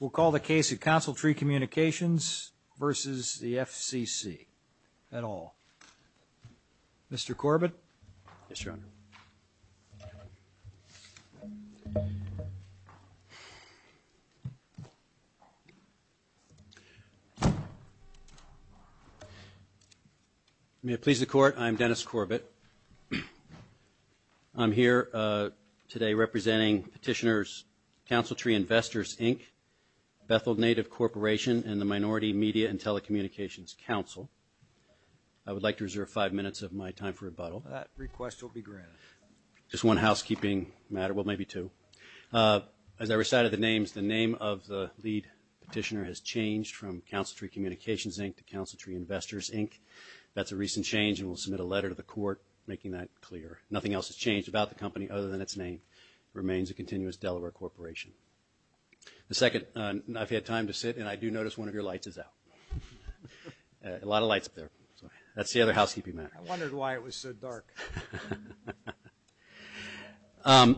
We'll call the case of Consul Tree Communications versus the FCC. I'm Dennis Corbett. I'm here today representing Petitioners, Consul Tree Investors, Inc., Bethel Native Corporation, and the Minority Media and Telecommunications Council. I would like to reserve five minutes of my time for rebuttal. That request will be granted. Just one housekeeping matter, well maybe two. As I recited the names, the name of the lead petitioner has changed from Consul Tree Communications Inc. to Consul Tree Investors Inc. That's a recent change and we'll submit a letter to the court making that clear. Nothing else has changed about the company other than its name remains a continuous Delaware corporation. The second, I've had time to sit and I do notice one of your lights is out. A lot of lights up there. Sorry. That's the other housekeeping matter. I wondered why it was so dark. I'm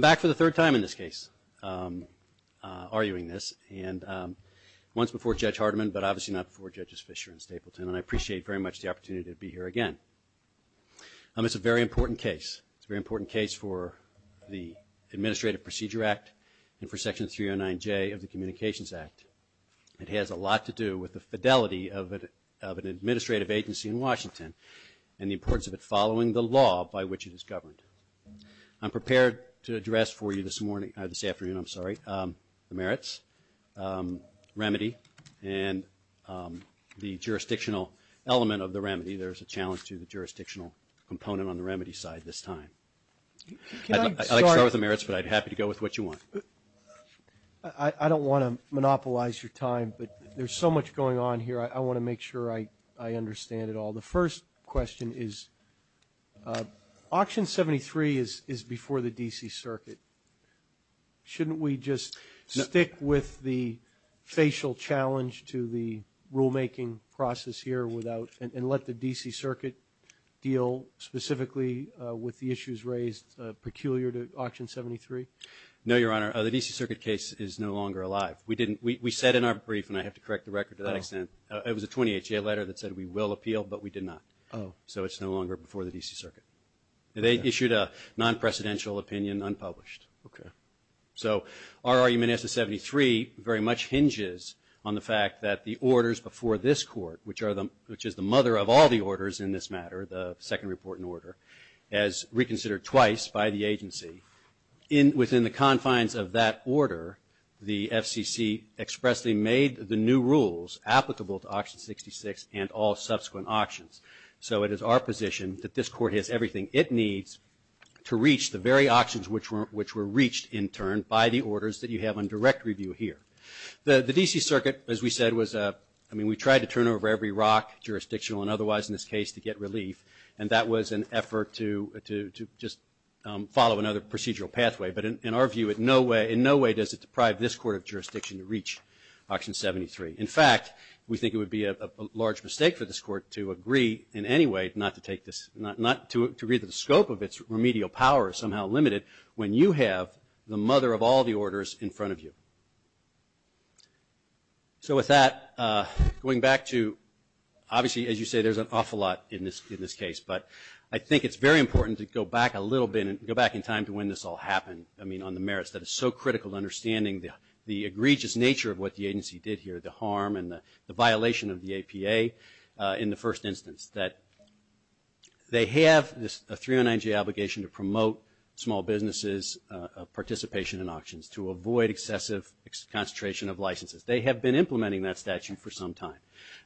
back for the third time in this case, arguing this, and once before Judge Hardeman but obviously not before Judges Fischer and Stapleton and I appreciate very much the opportunity to be here again. It's a very important case. It's a very important case for the Administrative Procedure Act and for Section 309J of the Communications Act. It has a lot to do with the fidelity of an administrative agency in Washington and the importance of it following the law by which it is governed. I'm prepared to address for you this afternoon the merits, remedy, and the jurisdictional element of the remedy. There's a challenge to the jurisdictional component on the remedy side this time. I'd like to start with the merits but I'd be happy to go with what you want. I don't want to monopolize your time but there's so much going on here I want to make sure I understand it all. The first question is, Auction 73 is before the D.C. Circuit. Shouldn't we just stick with the facial challenge to the rulemaking process here and let the D.C. Circuit deal specifically with the issues raised peculiar to Auction 73? No, Your Honor. The D.C. Circuit case is no longer alive. We said in our brief, and I have to correct the record to that extent, it was a 20HA letter that said we will appeal but we did not. So it's no longer before the D.C. Circuit. They issued a non-precedential opinion unpublished. So our argument as to 73 very much hinges on the fact that the orders before this Court, which is the mother of all the orders in this matter, the second report and order, as reconsidered twice by the agency, within the confines of that order, the FCC expressly made the new rules applicable to Auction 66 and all subsequent auctions. So it is our position that this Court has everything it needs to reach the very auctions which were reached in turn by the orders that you have on direct review here. The D.C. Circuit, as we said, was a, I mean, we tried to turn over every rock, jurisdictional and otherwise in this case, to get relief, and that was an effort to just follow another procedural pathway. But in our view, in no way does it deprive this Court of jurisdiction to reach Auction 73. In fact, we think it would be a large mistake for this Court to agree in any way not to take this, not to agree that the scope of its remedial power is somehow limited when you have the mother of all the orders in front of you. So with that, going back to, obviously, as you say, there's an awful lot in this case, but I think it's very important to go back a little bit, go back in time to when this all happened, I mean, on the merits that is so critical to understanding the egregious nature of what the agency did here, the harm and the violation of the APA in the first instance, that they have a 309J obligation to promote small businesses' participation in auctions, to avoid excessive concentration of licenses. They have been implementing that statute for some time,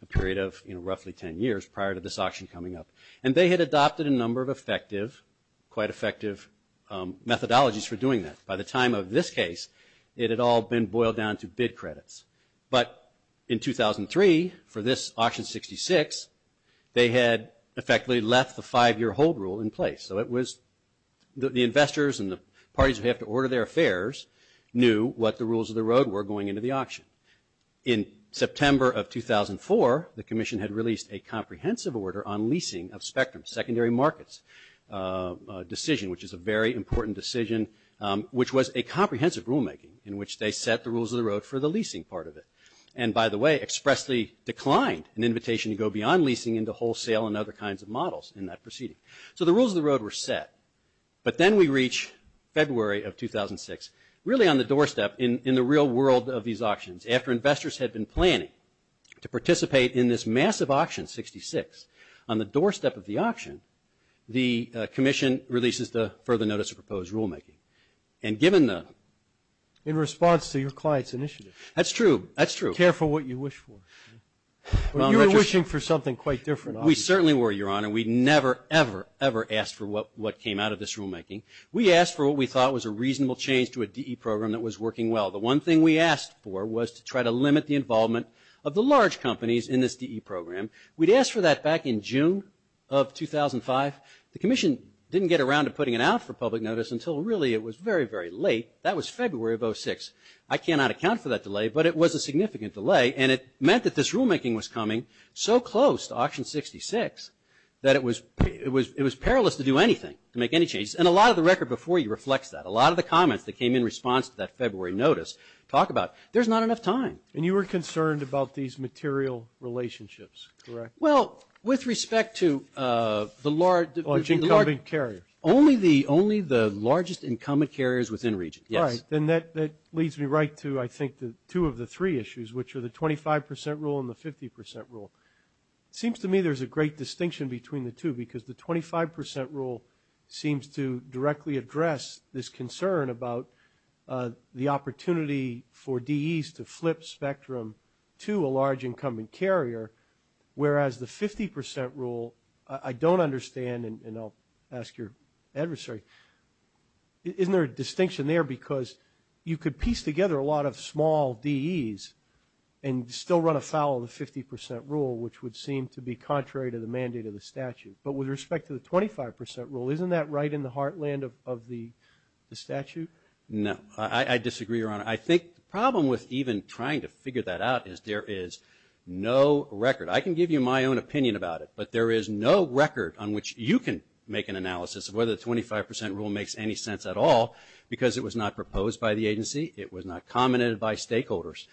a period of roughly 10 years prior to this auction coming up, and they had adopted a number of effective, quite effective methodologies for doing that. By the time of this case, it had all been boiled down to bid credits. But in 2003, for this auction 66, they had effectively left the five-year hold rule in place. So it was the investors and the parties who have to order their affairs knew what the rules of the road were going into the auction. In September of 2004, the Commission had released a comprehensive order on leasing of spectrum secondary markets, a decision which is a very important decision, which was a comprehensive rulemaking in which they set the rules of the road for the leasing part of it. And by the way, expressly declined an invitation to go beyond leasing into wholesale and other kinds of models in that proceeding. So the rules of the road were set. But then we reach February of 2006, really on the doorstep in the real world of these auctions. After investors had been planning to participate in this massive auction 66, on the doorstep of the auction, the Commission releases the further notice of proposed rulemaking. And given the... In response to your client's initiative. That's true. That's true. Care for what you wish for. You were wishing for something quite different. We certainly were, Your Honor. We never, ever, ever asked for what came out of this rulemaking. We asked for what we thought was a reasonable change to a DE program that was working well. The one thing we asked for was to try to limit the involvement of the large companies in this DE program. We'd asked for that back in June of 2005. The Commission didn't get around to putting it out for public notice until really it was very, very late. That was February of 2006. I cannot account for that delay, but it was a significant delay. And it meant that this rulemaking was coming so close to auction 66 that it was perilous to do anything, to make any changes. And a lot of the record before you reflects that. A lot of the comments that came in response to that February notice talk about, there's not enough time. And you were concerned about these material relationships, correct? Well, with respect to the large, only the, only the largest incumbent carriers within region, yes. All right. Then that leads me right to, I think, two of the three issues, which are the 25 percent rule and the 50 percent rule. Seems to me there's a great distinction between the two because the 25 percent rule seems to directly address this concern about the opportunity for DEs to flip spectrum to a whereas the 50 percent rule, I don't understand, and I'll ask your adversary, isn't there a distinction there because you could piece together a lot of small DEs and still run afoul of the 50 percent rule, which would seem to be contrary to the mandate of the statute. But with respect to the 25 percent rule, isn't that right in the heartland of the statute? No. I disagree, Your Honor. I think the problem with even trying to figure that out is there is no record. I can give you my own opinion about it, but there is no record on which you can make an analysis of whether the 25 percent rule makes any sense at all because it was not proposed by the agency. It was not commented by stakeholders.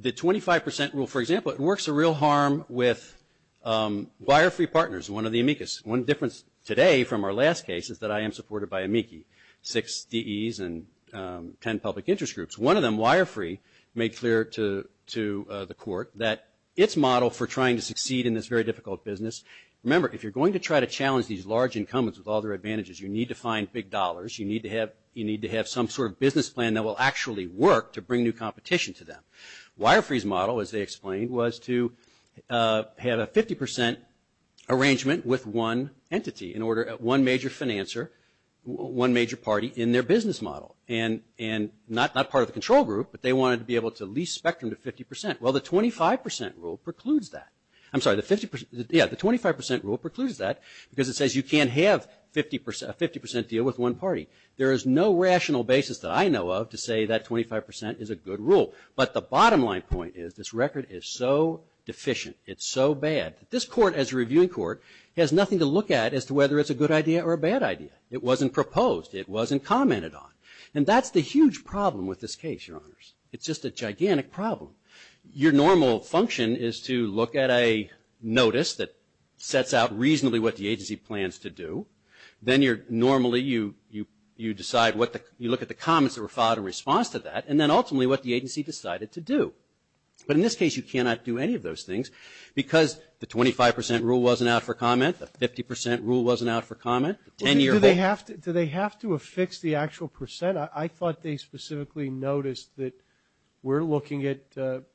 The 25 percent rule, for example, it works a real harm with wire-free partners, one of the amicus. One difference today from our last case is that I am supported by amici, six DEs and 10 public interest groups. One of them, wire-free, made clear to the court that its model for trying to succeed in this very difficult business, remember, if you're going to try to challenge these large incumbents with all their advantages, you need to find big dollars. You need to have some sort of business plan that will actually work to bring new competition to them. Wire-free's model, as they explained, was to have a 50 percent arrangement with one entity, one major financer, one major party in their business model and not part of the control group, but they wanted to be able to lease spectrum to 50 percent. Well, the 25 percent rule precludes that. I'm sorry, the 50 percent, yeah, the 25 percent rule precludes that because it says you can't have a 50 percent deal with one party. There is no rational basis that I know of to say that 25 percent is a good rule. But the bottom line point is this record is so deficient, it's so bad, that this court as a reviewing court has nothing to look at as to whether it's a good idea or a bad idea. It wasn't proposed. It wasn't commented on. And that's the huge problem with this case, Your Honors. It's just a gigantic problem. Your normal function is to look at a notice that sets out reasonably what the agency plans to do. Then you're normally, you decide what the, you look at the comments that were followed in response to that, and then ultimately what the agency decided to do. But in this case, you cannot do any of those things because the 25 percent rule wasn't out for comment, the 50 percent rule wasn't out for comment, the 10-year rule. Do they have to affix the actual percent? I thought they specifically noticed that we're looking at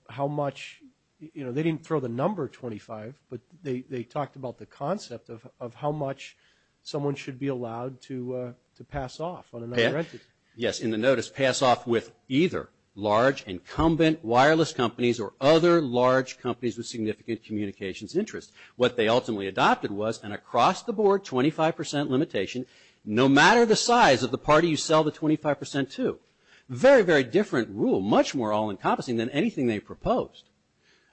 how much, you know, they didn't throw the number 25, but they talked about the concept of how much someone should be allowed to pass off on another entity. Yes, in the notice, pass off with either large incumbent wireless companies or other large companies with significant communications interests. What they ultimately adopted was an across-the-board 25 percent limitation, no matter the size of the party you sell the 25 percent to. Very, very different rule, much more all-encompassing than anything they proposed.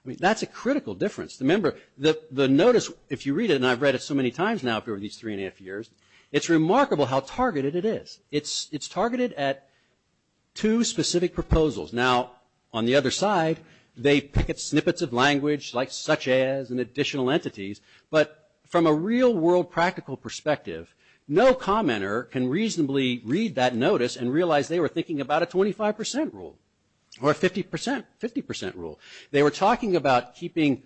That's a critical difference. Remember, the notice, if you read it, and I've read it so many times now over these three and a half years, it's remarkable how targeted it is. It's targeted at two specific proposals. Now, on the other side, they picket snippets of language like such as and additional entities, but from a real-world practical perspective, no commenter can reasonably read that notice and realize they were thinking about a 25 percent rule or a 50 percent rule. They were talking about keeping,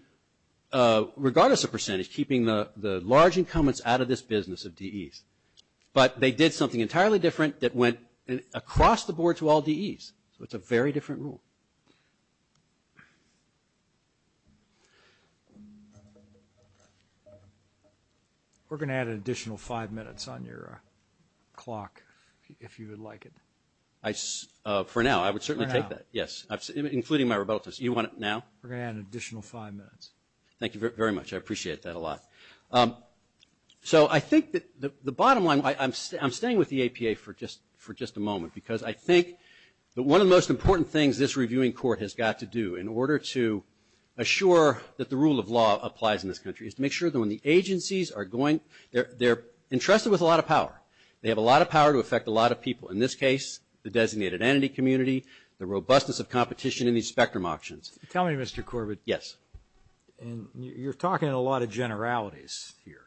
regardless of percentage, keeping the large incumbents out of this business of DEs, but they did something entirely different that went across-the-board to all DEs. So, it's a very different rule. We're going to add an additional five minutes on your clock, if you would like it. For now, I would certainly take that, yes, including my rebuttals. You want it now? We're going to add an additional five minutes. Thank you very much. I appreciate that a lot. So I think that the bottom line, I'm staying with the APA for just a moment because I think that one of the most important things this reviewing court has got to do in order to assure that the rule of law applies in this country is to make sure that when the agencies are going-they're entrusted with a lot of power. They have a lot of power to affect a lot of people. In this case, the designated entity community, the robustness of competition in these spectrum options. Tell me, Mr. Corbett. Yes. And you're talking a lot of generalities here.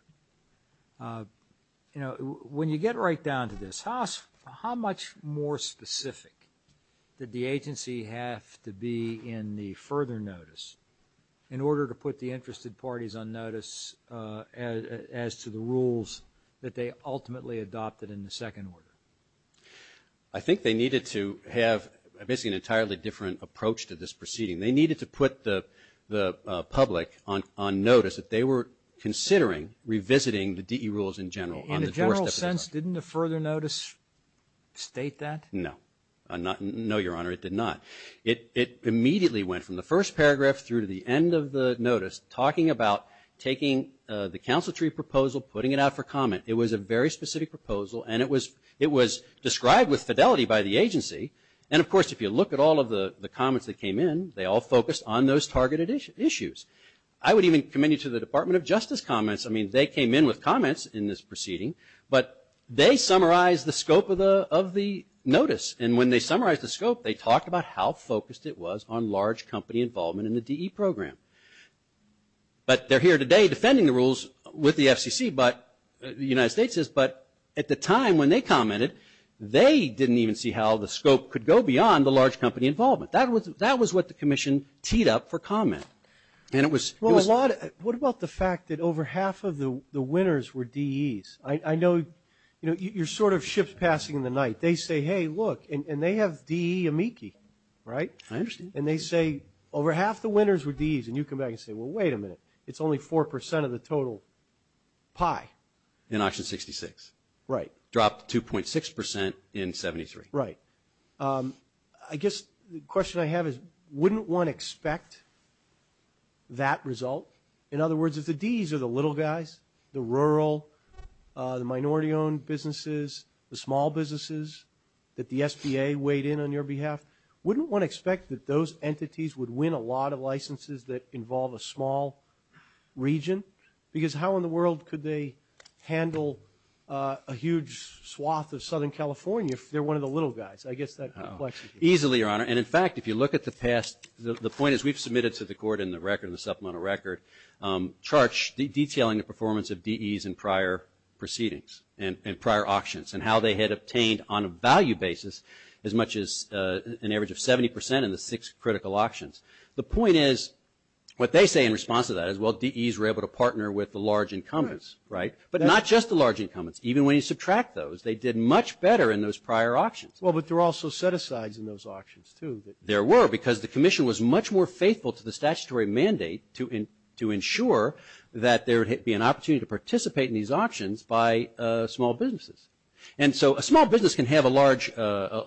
When you get right down to this, how much more specific did the agency have to be in the further notice in order to put the interested parties on notice as to the rules that they ultimately adopted in the second order? I think they needed to have basically an entirely different approach to this proceeding. They needed to put the public on notice that they were considering revisiting the DE rules in general. In a general sense, didn't the further notice state that? No. No, Your Honor, it did not. It immediately went from the first paragraph through to the end of the notice talking about taking the council tree proposal, putting it out for comment. It was a very specific proposal and it was described with fidelity by the agency. And of course, if you look at all of the comments that came in, they all focused on those targeted issues. I would even commend you to the Department of Justice comments. I mean, they came in with comments in this proceeding, but they summarized the scope of the notice. And when they summarized the scope, they talked about how focused it was on large company involvement in the DE program. But they're here today defending the rules with the FCC, the United States is, but at the time when they commented, they didn't even see how the scope could go beyond the large company involvement. That was what the commission teed up for comment. What about the fact that over half of the winners were DEs? I know you're sort of ships passing in the night. They say, hey, look, and they have DE amici, right? I understand. And they say, over half the winners were DEs, and you come back and say, well, wait a minute. It's only 4% of the total pie. In option 66. Right. Dropped 2.6% in 73. Right. I guess the question I have is, wouldn't one expect that result? In other words, if the DEs are the little guys, the rural, the minority-owned businesses, the small businesses that the SBA weighed in on your behalf, wouldn't one expect that those entities would win a lot of licenses that involve a small region? Because how in the world could they handle a huge swath of Southern California if they're one of the little guys? I guess that question. Easily, Your Honor. And in fact, if you look at the past, the point is we've submitted to the court in the record, in the supplemental record, charts detailing the performance of DEs in prior proceedings, in prior auctions, and how they had obtained on a value basis as much as an average of 70% in the six critical auctions. The point is, what they say in response to that is, well, DEs were able to partner with the large incumbents. Right. Right. But not just the large incumbents. Even when you subtract those, they did much better in those prior auctions. Well, but there were also set-asides in those auctions, too. There were, because the Commission was much more faithful to the statutory mandate to ensure that there would be an opportunity to participate in these auctions by small businesses. And so a small business can have a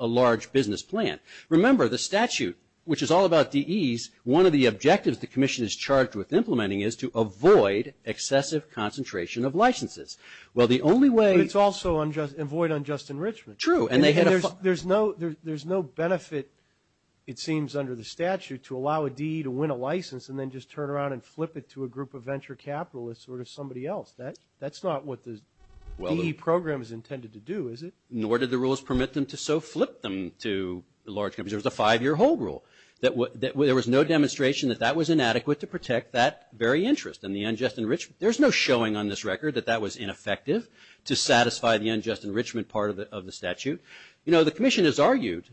large business plan. Remember, the statute, which is all about DEs, one of the objectives the Commission is charged with implementing is to avoid excessive concentration of licenses. Well, the only way- But it's also avoid unjust enrichment. True. And they had a- There's no benefit, it seems, under the statute to allow a DE to win a license and then just turn around and flip it to a group of venture capitalists or to somebody else. That's not what the DE program is intended to do, is it? Nor did the rules permit them to so flip them to large companies. There was a five-year hold rule. There was no demonstration that that was inadequate to protect that very interest and the unjust enrichment. There's no showing on this record that that was ineffective to satisfy the unjust enrichment part of the statute. You know, the Commission has argued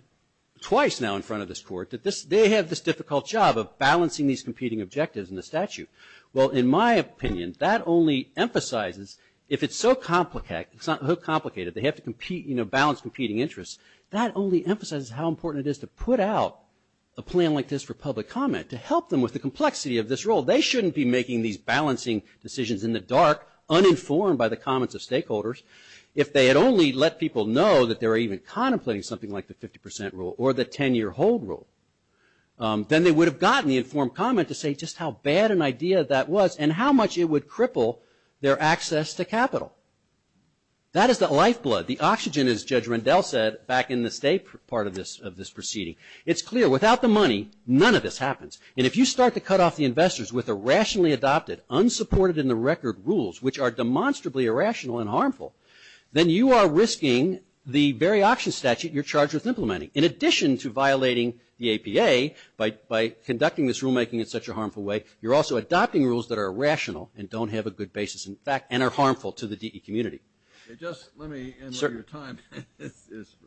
twice now in front of this Court that they have this difficult job of balancing these competing objectives in the statute. Well, in my opinion, that only emphasizes, if it's so complicated, it's not so complicated, they have to compete, you know, balance competing interests, that only emphasizes how important it is to put out a plan like this for public comment, to help them with the complexity of this rule. They shouldn't be making these balancing decisions in the dark, uninformed by the comments of stakeholders. If they had only let people know that they were even contemplating something like the 50% rule or the 10-year hold rule, then they would have gotten the informed comment to say just how bad an idea that was and how much it would cripple their access to capital. That is the lifeblood, the oxygen, as Judge Rendell said back in the state part of this proceeding. It's clear, without the money, none of this happens. And if you start to cut off the investors with irrationally adopted, unsupported in the record rules, which are demonstrably irrational and harmful, then you are risking the very auction statute you're charged with implementing. In addition to violating the APA by conducting this rulemaking in such a harmful way, you're also adopting rules that are irrational and don't have a good basis in fact and are harmful to the DE community. Just let me end on your time.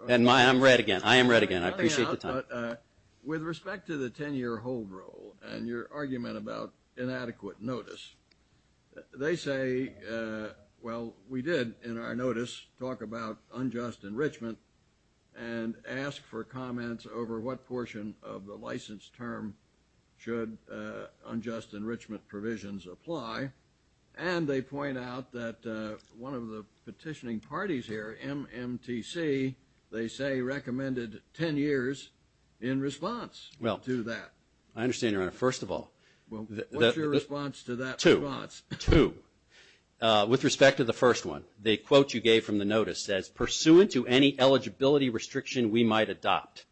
And I'm red again. I am red again. I appreciate the time. With respect to the 10-year hold rule and your argument about inadequate notice, they say, well, we did in our notice talk about unjust enrichment and ask for comments over what portion of the license term should unjust enrichment provisions apply. And they point out that one of the petitioning parties here, MMTC, they say recommended 10 years in response to that. Well, I understand, Your Honor. First of all, Well, what's your response to that response? Two. Two. With respect to the first one, the quote you gave from the notice says, pursuant to any eligibility restriction we might adopt,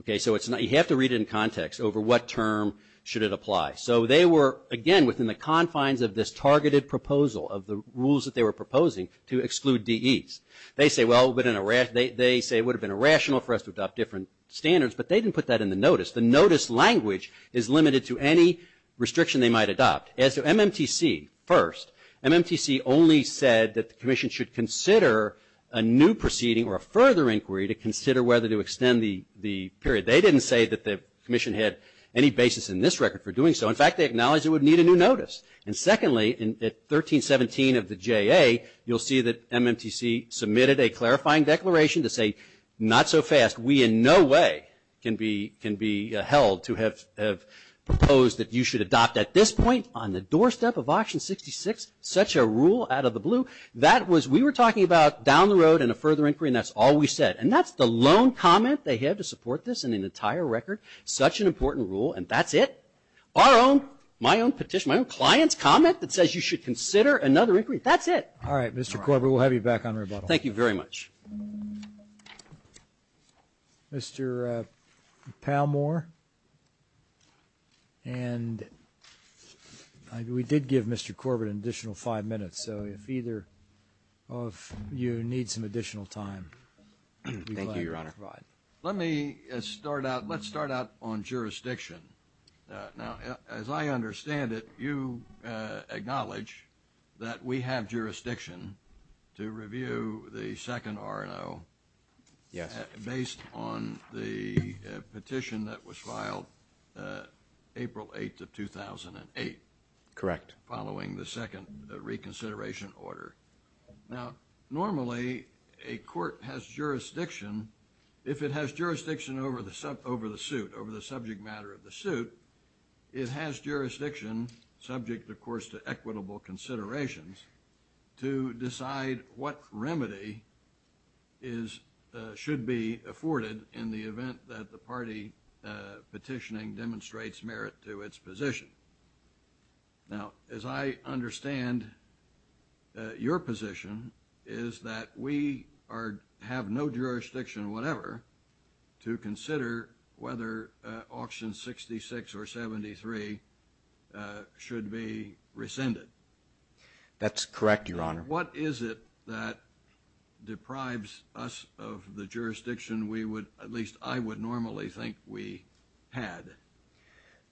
okay, so you have to read it in context over what term should it apply. So they were, again, within the confines of this targeted proposal of the rules that they were proposing to exclude DEs. They say, well, they say it would have been irrational for us to adopt different standards, but they didn't put that in the notice. The notice language is limited to any restriction they might adopt. As to MMTC, first, MMTC only said that the Commission should consider a new proceeding or a further inquiry to consider whether to extend the period. They didn't say that the Commission had any basis in this record for doing so. In fact, they acknowledged it would need a new notice. And secondly, at 1317 of the JA, you'll see that MMTC submitted a clarifying declaration to say, not so fast, we in no way can be held to have proposed that you should adopt at this point on the doorstep of option 66, such a rule out of the blue. That was, we were talking about down the road and a further inquiry, and that's all we said. And that's the lone comment they have to support this in an entire record, such an important rule, and that's it. Our own, my own petition, my own client's comment that says you should consider another inquiry. That's it. All right, Mr. Corbett, we'll have you back on rebuttal. Thank you very much. Mr. Palmore, and we did give Mr. Corbett an additional five minutes, so if either of you need some additional time. Thank you, Your Honor. All right. Let me start out, let's start out on jurisdiction. Now, as I understand it, you acknowledge that we have jurisdiction to review the second R&O based on the petition that was filed April 8 of 2008. Correct. Following the second reconsideration order. Now, normally a court has jurisdiction, if it has jurisdiction over the suit, over the subject matter of the suit, it has jurisdiction, subject, of course, to equitable considerations to decide what remedy is, should be afforded in the event that the party petitioning demonstrates merit to its position. Now, as I understand your position is that we are, have no jurisdiction, whatever, to consider whether auction 66 or 73 should be rescinded. That's correct, Your Honor. What is it that deprives us of the jurisdiction we would, at least I would normally think we had?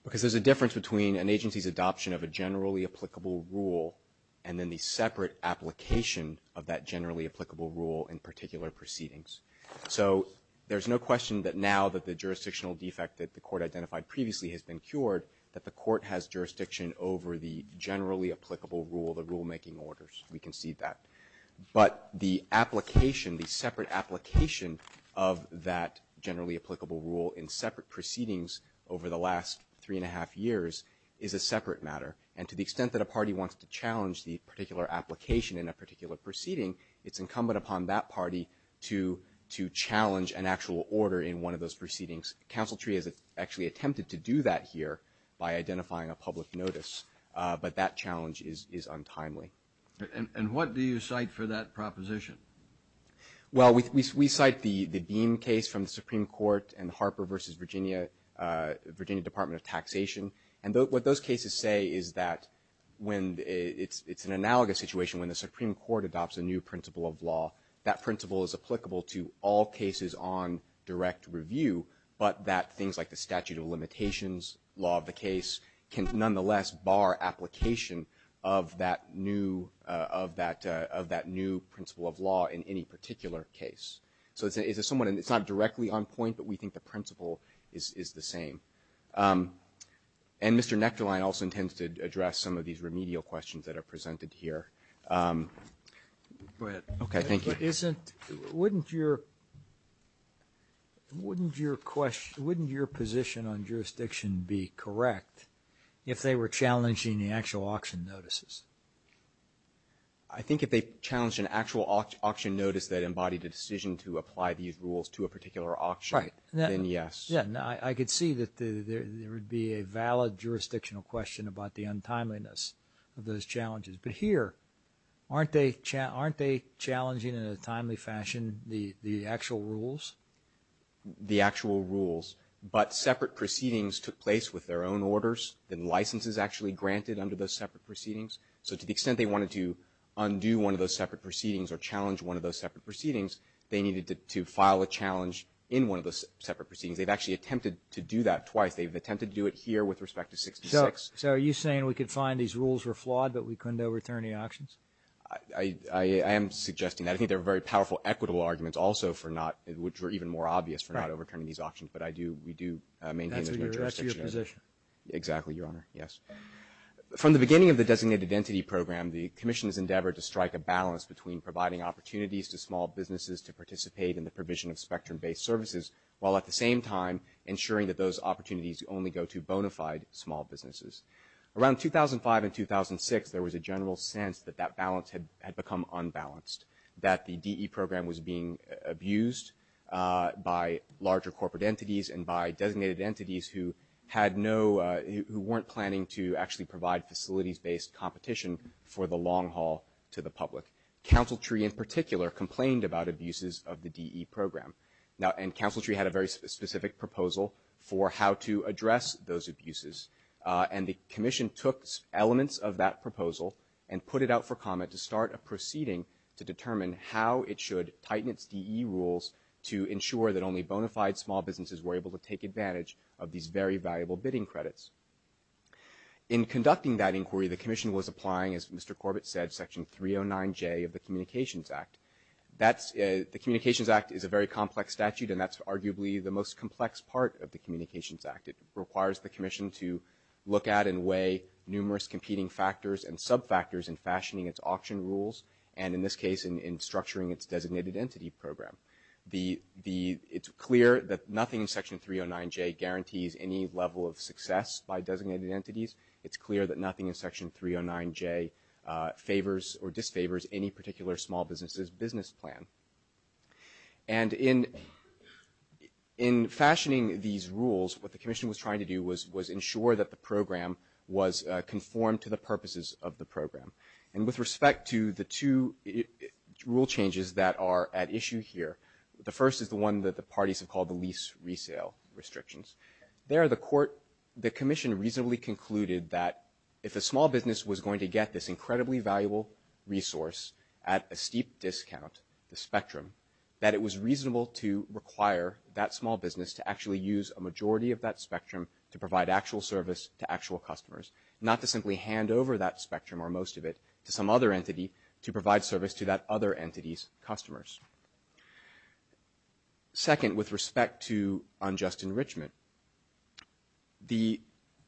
Because there's a difference between an agency's adoption of a generally applicable rule and then the separate application of that generally applicable rule in particular proceedings. So, there's no question that now that the jurisdictional defect that the court identified previously has been cured, that the court has jurisdiction over the generally applicable rule, the rulemaking orders. We can see that. But the application, the separate application of that generally applicable rule in separate proceedings over the last three and a half years is a separate matter. And to the extent that a party wants to challenge the particular application in a particular proceeding, it's incumbent upon that party to challenge an actual order in one of those proceedings. Counsel Tree has actually attempted to do that here by identifying a public notice. But that challenge is untimely. And what do you cite for that proposition? Well, we cite the Beam case from the Supreme Court and Harper v. Virginia, Virginia Department of Taxation. And what those cases say is that when it's an analogous situation, when the Supreme Court adopts a new principle of law, that principle is applicable to all cases on direct review, but that things like the statute of limitations, law of the case, can nonetheless bar application of that new principle of law in any particular case. So it's somewhat, it's not directly on point, but we think the principle is the same. And Mr. Nektarline also intends to address some of these remedial questions that are presented here. Go ahead. Okay. Thank you. But isn't, wouldn't your, wouldn't your question, wouldn't your position on jurisdiction be correct if they were challenging the actual auction notices? I think if they challenged an actual auction notice that embodied a decision to apply these rules to a particular auction, then yes. Yeah, I could see that there would be a valid jurisdictional question about the untimeliness of those challenges. But here, aren't they challenging in a timely fashion the actual rules? The actual rules. But separate proceedings took place with their own orders, and licenses actually granted under those separate proceedings. So to the extent they wanted to undo one of those separate proceedings or challenge one of those separate proceedings, they needed to file a challenge in one of those separate proceedings. They've actually attempted to do that twice. They've attempted to do it here with respect to 66. So are you saying we could find these rules were flawed, but we couldn't overturn the auctions? I am suggesting that. I think there are very powerful equitable arguments also for not, which are even more we do maintain those jurisdictions. That's your position. Exactly, Your Honor. Yes. From the beginning of the Designated Entity Program, the Commission's endeavor to strike a balance between providing opportunities to small businesses to participate in the provision of spectrum-based services, while at the same time ensuring that those opportunities only go to bona fide small businesses. Around 2005 and 2006, there was a general sense that that balance had become unbalanced, that the DE program was being abused by larger corporate entities and by designated entities who had no, who weren't planning to actually provide facilities-based competition for the long haul to the public. Council Tree in particular complained about abuses of the DE program. And Council Tree had a very specific proposal for how to address those abuses. And the Commission took elements of that proposal and put it out for comment to start a proceeding to determine how it should tighten its DE rules to ensure that only bona fide small businesses were able to take advantage of these very valuable bidding credits. In conducting that inquiry, the Commission was applying, as Mr. Corbett said, Section 309J of the Communications Act. The Communications Act is a very complex statute, and that's arguably the most complex part of the Communications Act. It requires the Commission to look at and weigh numerous competing factors and sub-factors in fashioning its auction rules, and in this case, in structuring its designated entity program. It's clear that nothing in Section 309J guarantees any level of success by designated entities. It's clear that nothing in Section 309J favors or disfavors any particular small business's business plan. And in fashioning these rules, what the Commission was trying to do was ensure that the program was conformed to the purposes of the program. And with respect to the two rule changes that are at issue here, the first is the one that the parties have called the lease resale restrictions. There the Commission reasonably concluded that if a small business was going to get this incredibly valuable resource at a steep discount, the spectrum, that it was reasonable to require that small business to actually use a majority of that spectrum to provide actual service to actual customers, not to simply hand over that spectrum or most of it to some other entity to provide service to that other entity's customers. Second, with respect to unjust enrichment, the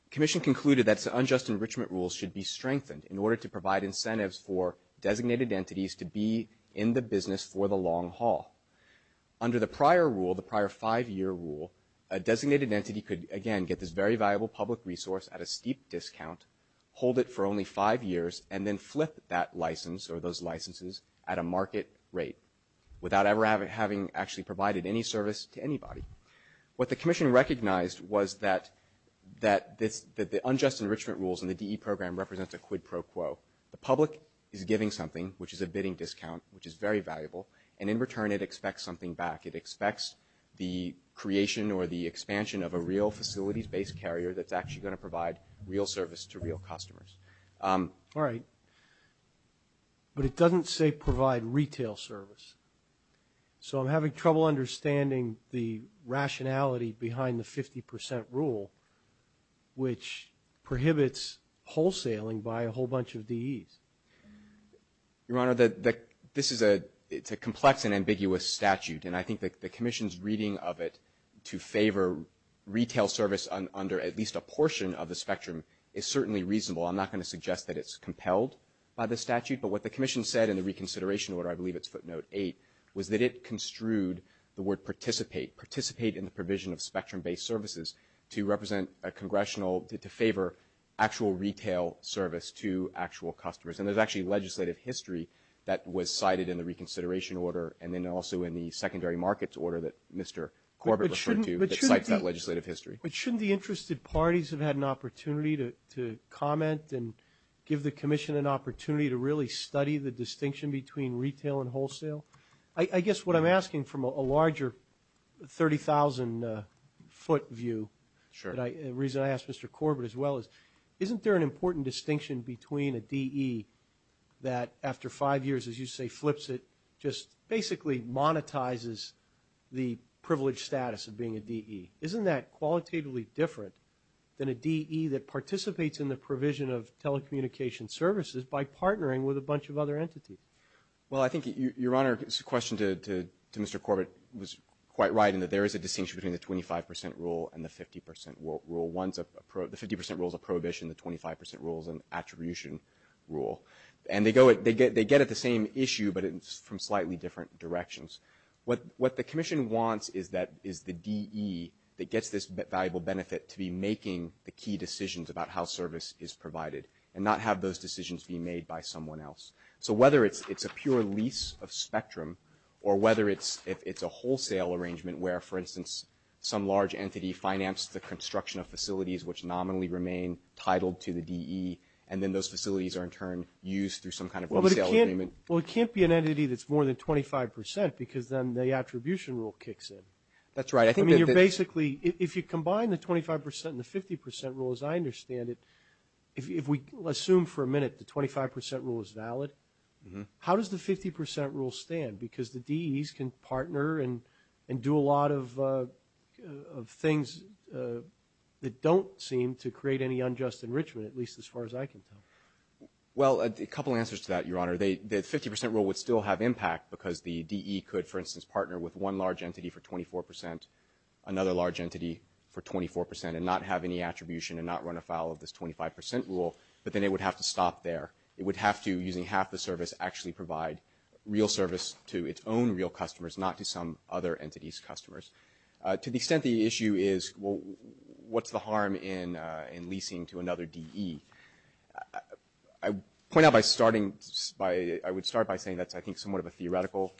Commission concluded that unjust enrichment rules should be strengthened in order to provide incentives for designated entities to be in the business for the long haul. Under the prior rule, the prior five-year rule, a designated entity could, again, get this very valuable public resource at a steep discount, hold it for only five years, and then flip that license or those licenses at a market rate without ever having actually provided any service to anybody. What the Commission recognized was that the unjust enrichment rules in the DE program represents a quid pro quo. The public is giving something, which is a bidding discount, which is very valuable, and in return it expects something back. It expects the creation or the expansion of a real facilities-based carrier that's actually going to provide real service to real customers. All right. But it doesn't say provide retail service. So I'm having trouble understanding the rationality behind the 50 percent rule, which prohibits wholesaling by a whole bunch of DEs. Your Honor, this is a complex and ambiguous statute, and I think the Commission's reading of it to favor retail service under at least a portion of the spectrum is certainly reasonable. I'm not going to suggest that it's compelled by the statute, but what the Commission said in the reconsideration order, I believe it's footnote eight, was that it construed the word participate, participate in the provision of spectrum-based services to represent a congressional, to favor actual retail service to actual customers. And there's actually legislative history that was cited in the reconsideration order and then also in the secondary markets order that Mr. Corbett referred to that cites that legislative history. But shouldn't the interested parties have had an opportunity to comment and give the Commission an opportunity to really study the distinction between retail and wholesale? I guess what I'm asking from a larger 30,000-foot view, the reason I asked Mr. Corbett as well is, isn't there an important distinction between a DE that after five years, as you say, flips it, just basically monetizes the privileged status of being a DE? Isn't that qualitatively different than a DE that participates in the provision of telecommunication services by partnering with a bunch of other entities? Well, I think your Honor's question to Mr. Corbett was quite right in that there is a distinction between the 25 percent rule and the 50 percent rule. The 50 percent rule is a prohibition, the 25 percent rule is an attribution rule. And they get at the same issue, but it's from slightly different directions. What the Commission wants is the DE that gets this valuable benefit to be making the key decisions about how service is provided and not have those decisions be made by someone else. So whether it's a pure lease of spectrum or whether it's a wholesale arrangement where, for instance, some large entity financed the construction of facilities which nominally remain titled to the DE, and then those facilities are in turn used through some kind of wholesale agreement. Well, it can't be an entity that's more than 25 percent, because then the attribution rule kicks in. That's right. I think that the – I mean, you're basically – if you combine the 25 percent and the 50 percent rule, as I understand it, if we assume for a minute the 25 percent rule is valid, how does the of things that don't seem to create any unjust enrichment, at least as far as I can tell? Well, a couple answers to that, Your Honor. The 50 percent rule would still have impact because the DE could, for instance, partner with one large entity for 24 percent, another large entity for 24 percent, and not have any attribution and not run afoul of this 25 percent rule, but then it would have to stop there. It would have to, using half the service, actually provide real service to its own real entity's customers. To the extent the issue is, well, what's the harm in leasing to another DE, I point out by starting by – I would start by saying that's, I think, somewhat of a theoretical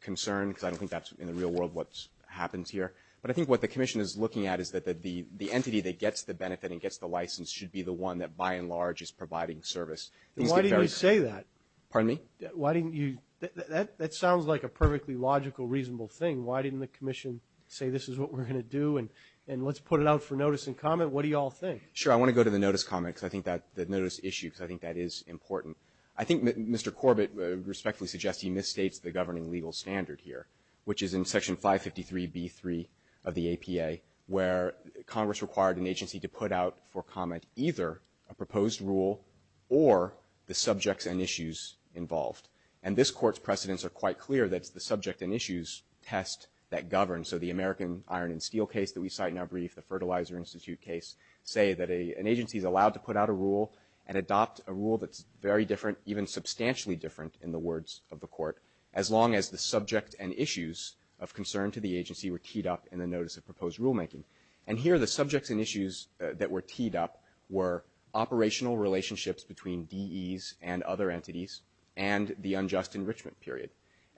concern, because I don't think that's, in the real world, what happens here. But I think what the Commission is looking at is that the entity that gets the benefit and gets the license should be the one that, by and large, is providing service. Why didn't you say that? Pardon me? Why didn't you – that sounds like a perfectly logical, reasonable thing. Why didn't the Commission say this is what we're going to do, and let's put it out for notice and comment? What do you all think? Sure. I want to go to the notice comment, because I think that – the notice issue, because I think that is important. I think Mr. Corbett respectfully suggests he misstates the governing legal standard here, which is in Section 553b3 of the APA, where Congress required an agency to put out for comment either a proposed rule or the subjects and issues involved. And this Court's precedents are quite clear that it's the subject and issues test that governs. So the American Iron and Steel case that we cite in our brief, the Fertilizer Institute case, say that an agency is allowed to put out a rule and adopt a rule that's very different, even substantially different, in the words of the Court, as long as the subject and issues of concern to the agency were teed up in the notice of proposed rulemaking. And here, the subjects and issues that were teed up were operational relationships between DEs and other entities and the unjust enrichment period.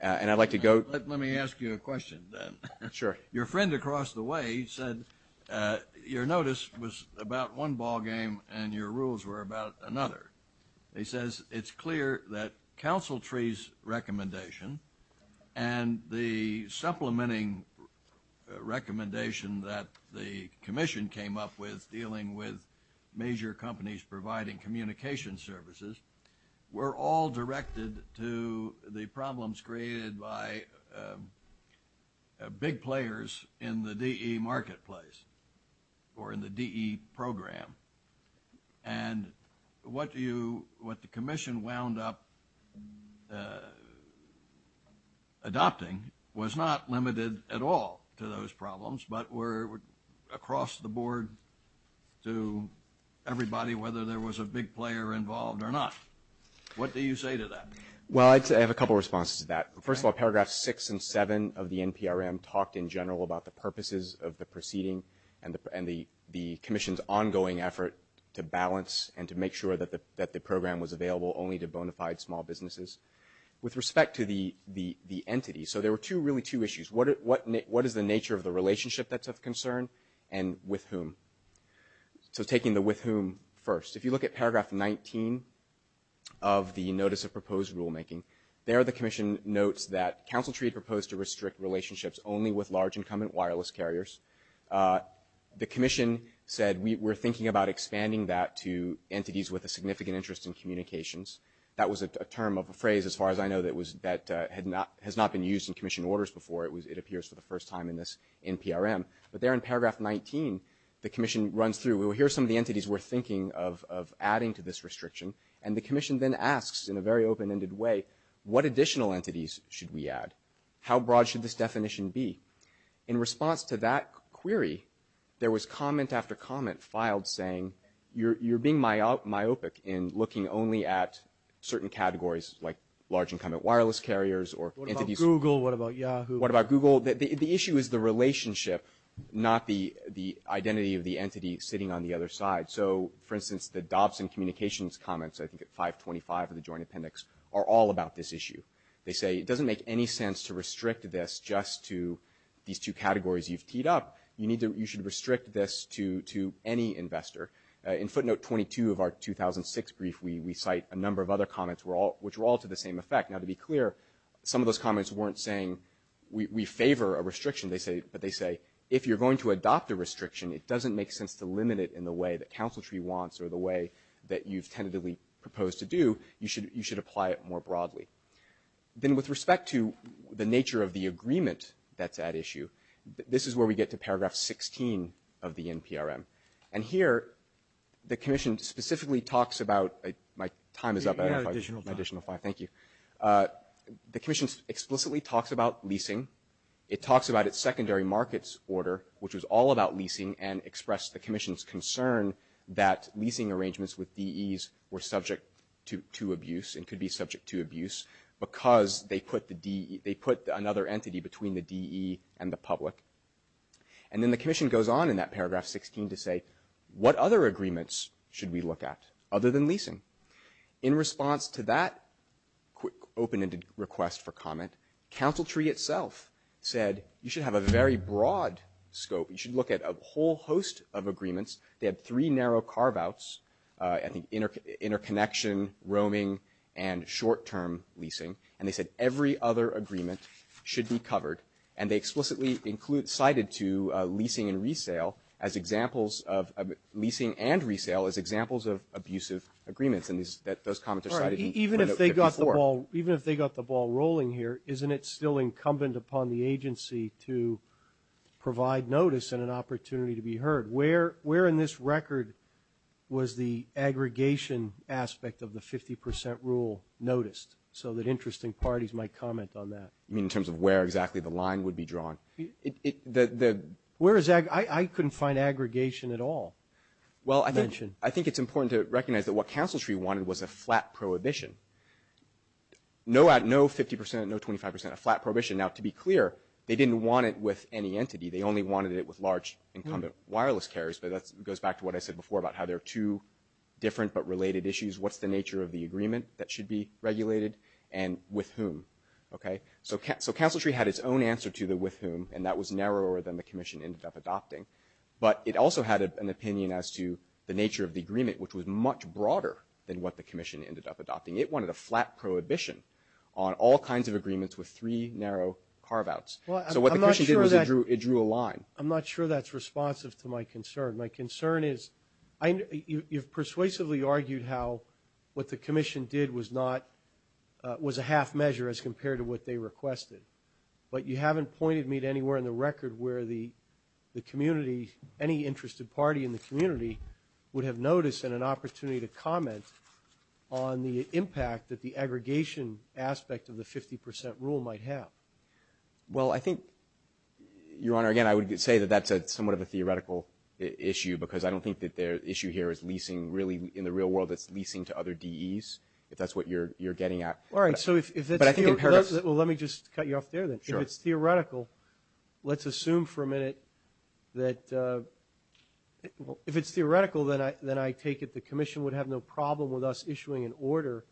And I'd like to go – Let me ask you a question, then. Sure. Your friend across the way said your notice was about one ballgame and your rules were about another. He says it's clear that Council Tree's recommendation and the supplementing recommendation that the commission came up with dealing with major companies providing communication services were all directed to the problems created by big players in the DE marketplace or in the DE program. And what you – what the commission wound up adopting was not limited at all to those problems, but were across the board to everybody whether there was a big player involved or not. What do you say to that? Well, I'd say I have a couple responses to that. First of all, paragraphs 6 and 7 of the NPRM talked in general about the purposes of the proceeding and the commission's ongoing effort to balance and to make sure that the program was available only to bona fide small businesses. With respect to the entity, so there were two – really two issues. What is the nature of the relationship that's of concern and with whom? So taking the with whom first, if you look at paragraph 19 of the Notice of Proposed Rulemaking, there the commission notes that Council Tree proposed to restrict relationships only with large incumbent wireless carriers. The commission said we're thinking about expanding that to entities with a significant interest in communications. That was a term of a phrase, as far as I know, that was – that had not – has not been used in commission orders before. It appears for the first time in this NPRM. But there in paragraph 19, the commission runs through, well, here are some of the entities we're thinking of adding to this restriction. And the commission then asks in a very open-ended way, what additional entities should we add? How broad should this definition be? In response to that query, there was comment after comment filed saying, you're being myopic in looking only at certain categories like large incumbent wireless carriers or entities – What about Google? What about Yahoo? What about Google? The issue is the relationship, not the identity of the entity sitting on the other side. So for instance, the Dobson Communications comments, I think at 525 of the Joint Appendix, are all about this issue. They say it doesn't make any sense to restrict this just to these two categories you've teed up. You need to – you should restrict this to any investor. In footnote 22 of our 2006 brief, we cite a number of other comments which were all to the same effect. Now, to be clear, some of those comments weren't saying we favor a restriction, but they say if you're going to adopt a restriction, it doesn't make sense to limit it in the way that Council Tree wants or the way that you've tentatively proposed to do. You should apply it more broadly. Then with respect to the nature of the agreement that's at issue, this is where we get to paragraph 16 of the NPRM. And here, the commission specifically talks about – my time is up. I have an additional five. Thank you. The commission explicitly talks about leasing. It talks about its secondary markets order, which was all about leasing, and expressed the commission's concern that leasing arrangements with DEs were subject to abuse and could be subject to abuse because they put another entity between the DE and the public. And then the commission goes on in that paragraph 16 to say, what other agreements should we look at other than leasing? In response to that open-ended request for comment, Council Tree itself said you should have a very broad scope. You should look at a whole host of agreements. They had three narrow carve-outs, I think interconnection, roaming, and short-term leasing. And they said every other agreement should be covered. And they explicitly include – cited to leasing and resale as examples of – leasing and those comments are cited in printout 54. Even if they got the ball rolling here, isn't it still incumbent upon the agency to provide notice and an opportunity to be heard? Where in this record was the aggregation aspect of the 50 percent rule noticed? So that interesting parties might comment on that. You mean in terms of where exactly the line would be drawn? Where is – I couldn't find aggregation at all. Well, I think it's important to recognize that what Council Tree wanted was a flat prohibition. No 50 percent, no 25 percent, a flat prohibition. Now to be clear, they didn't want it with any entity. They only wanted it with large incumbent wireless carriers, but that goes back to what I said before about how there are two different but related issues. What's the nature of the agreement that should be regulated and with whom? So Council Tree had its own answer to the with whom, and that was narrower than the commission ended up adopting. But it also had an opinion as to the nature of the agreement, which was much broader than what the commission ended up adopting. It wanted a flat prohibition on all kinds of agreements with three narrow carve-outs. So what the commission did was it drew a line. I'm not sure that's responsive to my concern. My concern is – you've persuasively argued how what the commission did was not – was a half measure as compared to what they requested, but you haven't pointed me to anywhere in the record where the community – any interested party in the community would have noticed and an opportunity to comment on the impact that the aggregation aspect of the 50 percent rule might have. Well, I think, Your Honor, again, I would say that that's somewhat of a theoretical issue because I don't think that the issue here is leasing really in the real world. It's leasing to other DEs, if that's what you're getting at. All right. So if it's – But I think in Paris – Well, let me just cut you off there then. Sure. If it's theoretical, let's assume for a minute that – well, if it's theoretical, then I take it the commission would have no problem with us issuing an order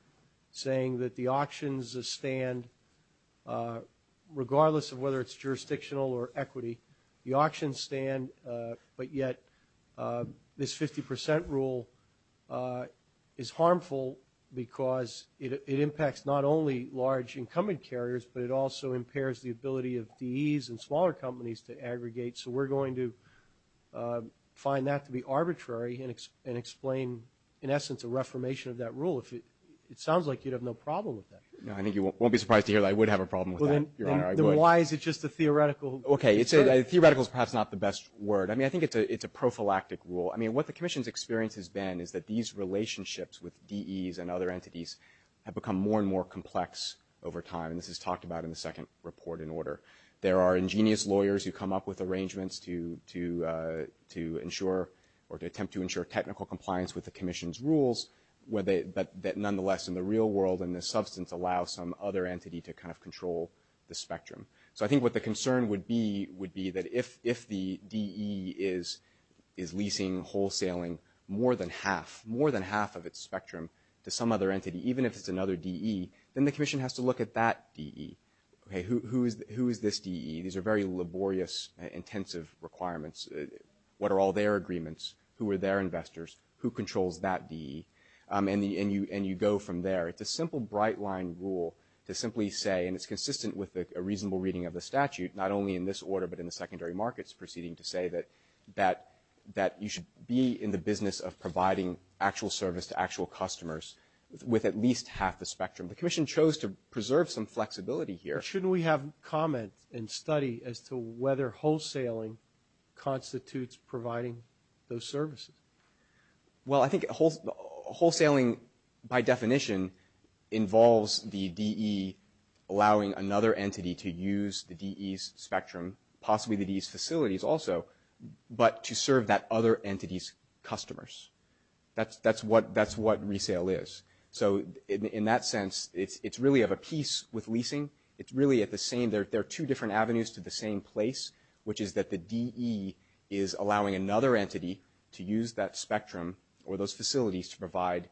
saying that the auctions stand regardless of whether it's jurisdictional or equity. The auctions stand, but yet this 50 percent rule is harmful because it impacts not only large incumbent carriers, but it also impairs the ability of DEs and smaller companies to aggregate. So we're going to find that to be arbitrary and explain, in essence, a reformation of that rule. If it – it sounds like you'd have no problem with that. No, I think you won't be surprised to hear that I would have a problem with that, Your Honor. I would. Then why is it just a theoretical – Okay. It's a – theoretical is perhaps not the best word. I mean, I think it's a prophylactic rule. I mean, what the commission's experience has been is that these relationships with over time. And this is talked about in the second report in order. There are ingenious lawyers who come up with arrangements to ensure – or to attempt to ensure technical compliance with the commission's rules, but that nonetheless in the real world and the substance allow some other entity to kind of control the spectrum. So I think what the concern would be would be that if the DE is leasing, wholesaling more than half – more than half of its spectrum to some other entity, even if it's another DE, then the commission has to look at that DE. Okay. Who is this DE? These are very laborious, intensive requirements. What are all their agreements? Who are their investors? Who controls that DE? And you go from there. It's a simple bright-line rule to simply say – and it's consistent with a reasonable reading of the statute, not only in this order but in the secondary markets proceeding to say that you should be in the business of providing actual service to actual customers with at least half the spectrum. The commission chose to preserve some flexibility here. Shouldn't we have comment and study as to whether wholesaling constitutes providing those services? Well, I think wholesaling by definition involves the DE allowing another entity to use the DE's spectrum, possibly the DE's facilities also, but to serve that other entity's customers. That's what resale is. So in that sense, it's really of a piece with leasing. It's really at the same – there are two different avenues to the same place, which is that the DE is allowing another entity to use that spectrum or those facilities to provide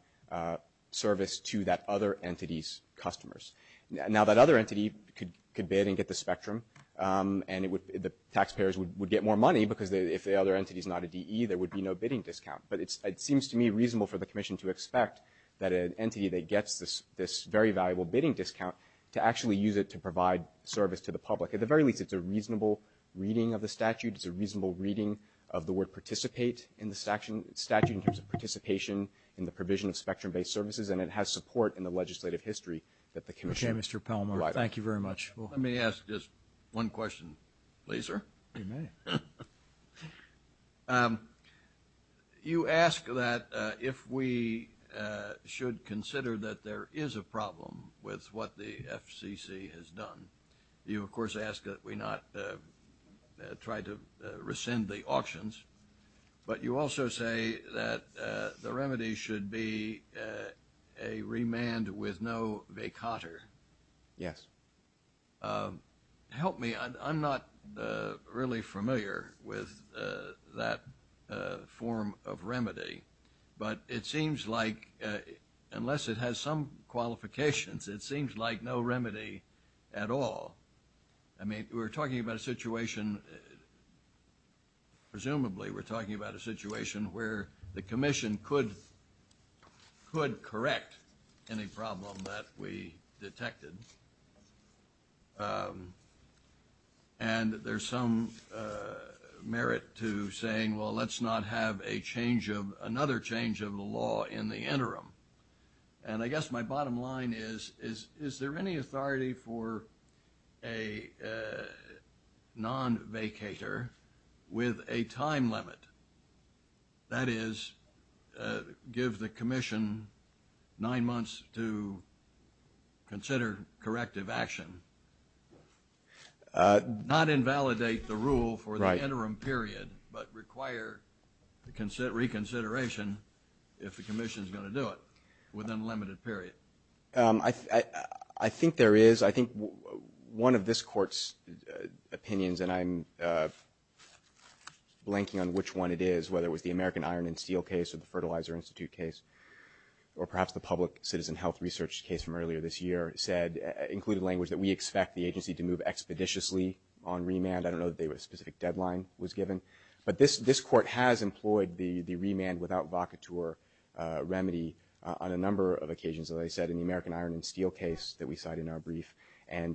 service to that other entity's customers. Now that other entity could bid and get the spectrum, and the taxpayers would get more money because if the other entity's not a DE, there would be no bidding discount. But it seems to me reasonable for the commission to expect that an entity that gets this very valuable bidding discount to actually use it to provide service to the public. At the very least, it's a reasonable reading of the statute. It's a reasonable reading of the word participate in the statute in terms of participation in the provision of spectrum-based services, and it has support in the legislative history that the commission provided. Okay, Mr. Palmore. Let me ask just one question, please, sir. You may. You ask that if we should consider that there is a problem with what the FCC has done. You of course ask that we not try to rescind the auctions. But you also say that the remedy should be a remand with no vacater. Yes. Help me, I'm not really familiar with that form of remedy, but it seems like unless it has some qualifications, it seems like no remedy at all. I mean, we're talking about a situation, presumably we're talking about a situation where the And there's some merit to saying, well, let's not have a change of – another change of the law in the interim. And I guess my bottom line is, is there any authority for a non-vacator with a time limit? That is, give the commission nine months to consider corrective action, not invalidate the rule for the interim period, but require reconsideration if the commission is going to do it within a limited period. I think there is. I think one of this Court's opinions, and I'm blanking on which one it is, whether it was the American Iron and Steel case or the Fertilizer Institute case, or perhaps the public citizen health research case from earlier this year, said – included language that we expect the agency to move expeditiously on remand. I don't know that a specific deadline was given. But this Court has employed the remand without vacateur remedy on a number of occasions, as I said, in the American Iron and Steel case that we cited in our brief, and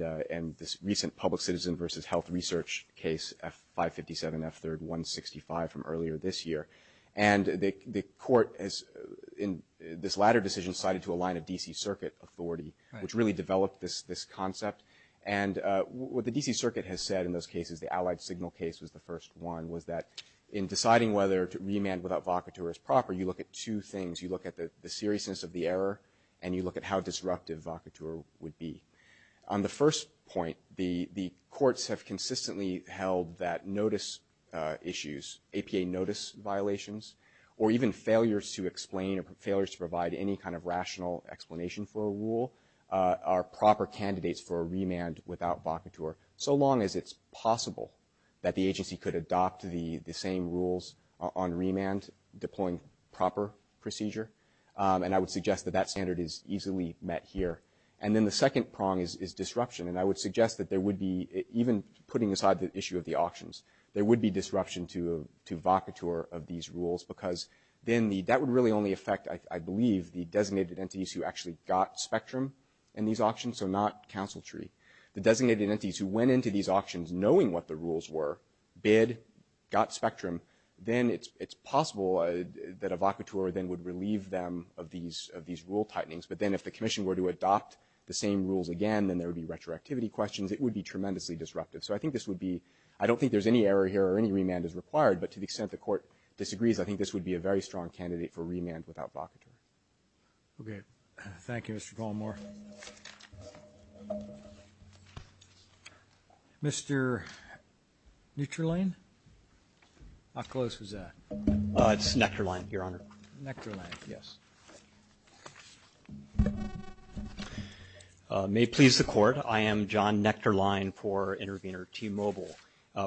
this recent public citizen versus health research case, F-557, F-3165, from earlier this year. And the Court has, in this latter decision, cited to align a D.C. Circuit authority, which really developed this concept. And what the D.C. Circuit has said in those cases – the Allied Signal case was the first one – was that in deciding whether to remand without vacateur is proper, you look at two and you look at how disruptive vacateur would be. On the first point, the courts have consistently held that notice issues – APA notice violations, or even failures to explain or failures to provide any kind of rational explanation for a rule – are proper candidates for a remand without vacateur, so long as it's possible that the agency could adopt the same rules on remand, deploying proper procedure. And I would suggest that that standard is easily met here. And then the second prong is disruption, and I would suggest that there would be – even putting aside the issue of the auctions – there would be disruption to vacateur of these rules, because then that would really only affect, I believe, the designated entities who actually got spectrum in these auctions, so not counsel tree. The designated entities who went into these auctions knowing what the rules were – bid, got spectrum – then it's possible that a vacateur then would relieve them of these rule tightenings. But then if the Commission were to adopt the same rules again, then there would be retroactivity questions. It would be tremendously disruptive. So I think this would be – I don't think there's any error here or any remand is required, but to the extent the Court disagrees, I think this would be a very strong candidate for remand without vacateur. Okay. Thank you, Mr. Goldmore. Mr. Nechterlein? How close was that? It's Nechterlein, Your Honor. Nechterlein, yes. May it please the Court, I am John Nechterlein for intervener T-Mobile.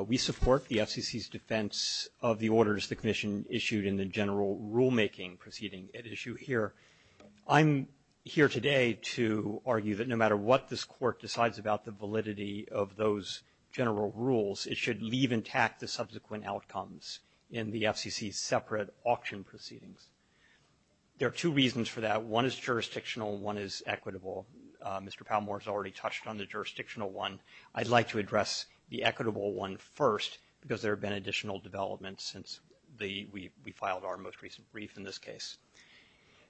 We support the FCC's defense of the orders the Commission issued in the general rulemaking proceeding at issue here. I'm here today to argue that no matter what this Court decides about the validity of those general rules, it should leave intact the subsequent outcomes in the FCC's separate auction proceedings. There are two reasons for that. One is jurisdictional. One is equitable. Mr. Palmore has already touched on the jurisdictional one. I'd like to address the equitable one first because there have been additional developments since we filed our most recent brief in this case.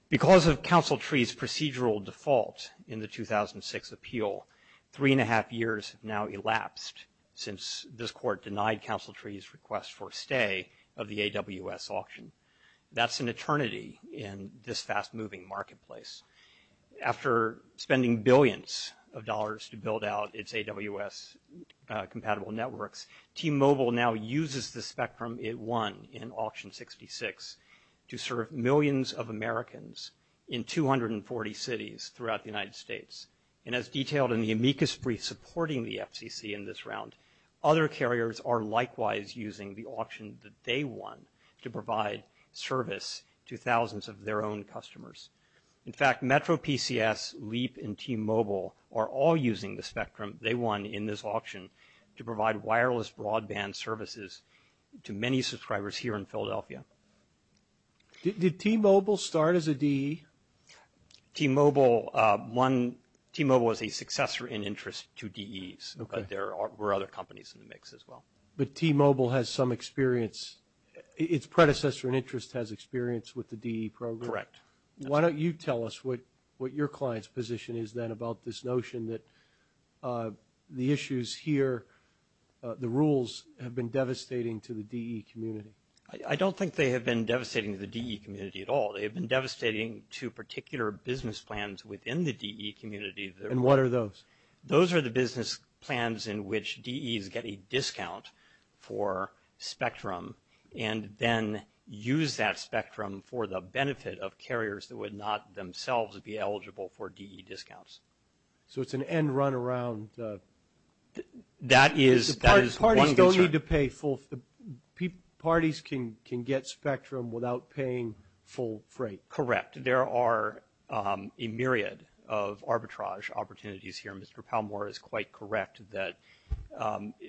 Because of Counsel Tree's procedural default in the 2006 appeal, three and a half years have now elapsed since this Court denied Counsel Tree's request for stay of the AWS auction. That's an eternity in this fast-moving marketplace. After spending billions of dollars to build out its AWS-compatible networks, T-Mobile now uses the spectrum it won in Auction 66 to serve millions of Americans in 240 cities throughout the United States. And as detailed in the amicus brief supporting the FCC in this round, other carriers are likewise using the auction that they won to provide service to thousands of their own In fact, MetroPCS, LEAP, and T-Mobile are all using the spectrum they won in this auction to provide wireless broadband services to many subscribers here in Philadelphia. Did T-Mobile start as a DE? T-Mobile won – T-Mobile was a successor in interest to DEs, but there were other companies in the mix as well. But T-Mobile has some experience – its predecessor in interest has experience with the DE program? Correct. Why don't you tell us what your client's position is then about this notion that the issues here – the rules have been devastating to the DE community? I don't think they have been devastating to the DE community at all. They have been devastating to particular business plans within the DE community. And what are those? Those are the business plans in which DEs get a discount for spectrum and then use that spectrum for the benefit of carriers that would not themselves be eligible for DE discounts. So it's an end-run-around – That is one concern. Parties don't need to pay full – parties can get spectrum without paying full freight. Correct. There are a myriad of arbitrage opportunities here. Mr. Palmore is quite correct that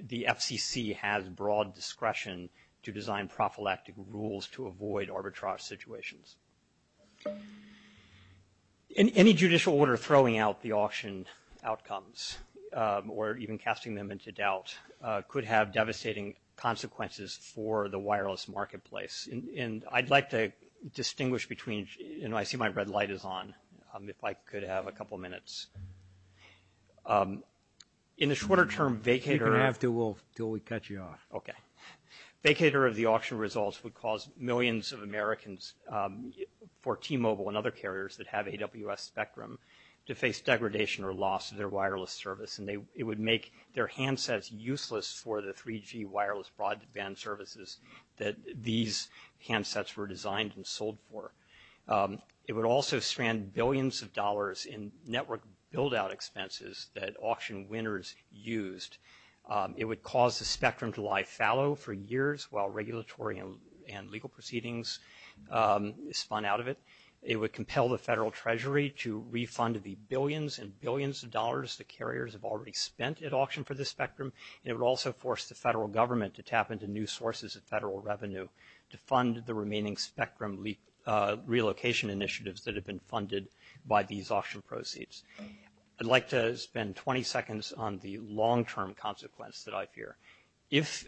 the FCC has broad discretion to design prophylactic rules to avoid arbitrage situations. Any judicial order throwing out the auction outcomes or even casting them into doubt could have devastating consequences for the wireless marketplace. And I'd like to distinguish between – I see my red light is on. If I could have a couple of minutes. In the shorter term, vacater – You're going to have to until we cut you off. Okay. Vacater of the auction results would cause millions of Americans for T-Mobile and other carriers that have AWS spectrum to face degradation or loss of their wireless service, and it would make their handsets useless for the 3G wireless broadband services that these handsets were designed and sold for. It would also strand billions of dollars in network build-out expenses that auction winners used. It would cause the spectrum to lie fallow for years while regulatory and legal proceedings spun out of it. It would compel the federal treasury to refund the billions and billions of dollars the carriers have already spent at auction for the spectrum, and it would also force the federal government to tap into new sources of federal revenue to fund the remaining spectrum relocation initiatives that have been funded by these auction proceeds. I'd like to spend 20 seconds on the long-term consequence that I fear. If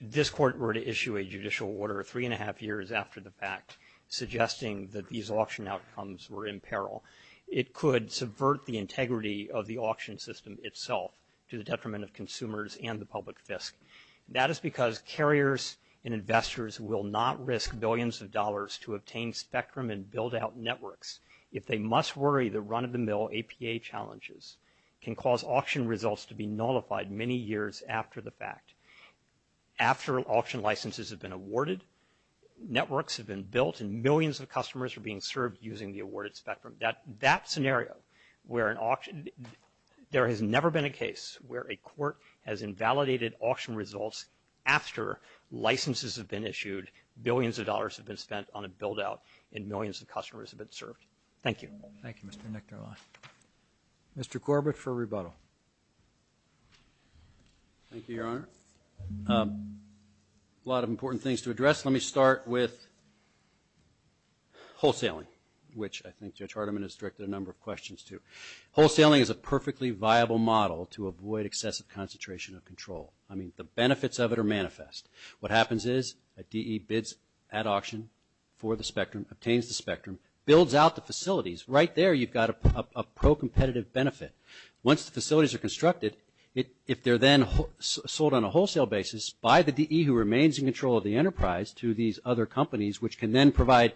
this court were to issue a judicial order three and a half years after the fact suggesting that these auction outcomes were in peril, it could subvert the integrity of the auction system itself to the detriment of consumers and the public fisc. That is because carriers and investors will not risk billions of dollars to obtain spectrum and build-out networks. If they must worry, the run-of-the-mill APA challenges can cause auction results to be nullified many years after the fact. After auction licenses have been awarded, networks have been built, and millions of customers are being served using the awarded spectrum. That scenario where an auction – there has never been a case where a court has invalidated auction results after licenses have been issued, billions of dollars have been spent on a build-out, and millions of customers have been served. Thank you. Thank you, Mr. Nichterlein. Mr. Corbett for rebuttal. Thank you, Your Honor. A lot of important things to address. Let me start with wholesaling, which I think Judge Hardiman has directed a number of questions to. Wholesaling is a perfectly viable model to avoid excessive concentration of control. I mean, the benefits of it are manifest. What happens is a DE bids at auction for the spectrum, obtains the spectrum, builds out the facilities. Right there, you've got a pro-competitive benefit. Once the facilities are constructed, if they're then sold on a wholesale basis by the DE who remains in control of the enterprise to these other companies, which can then provide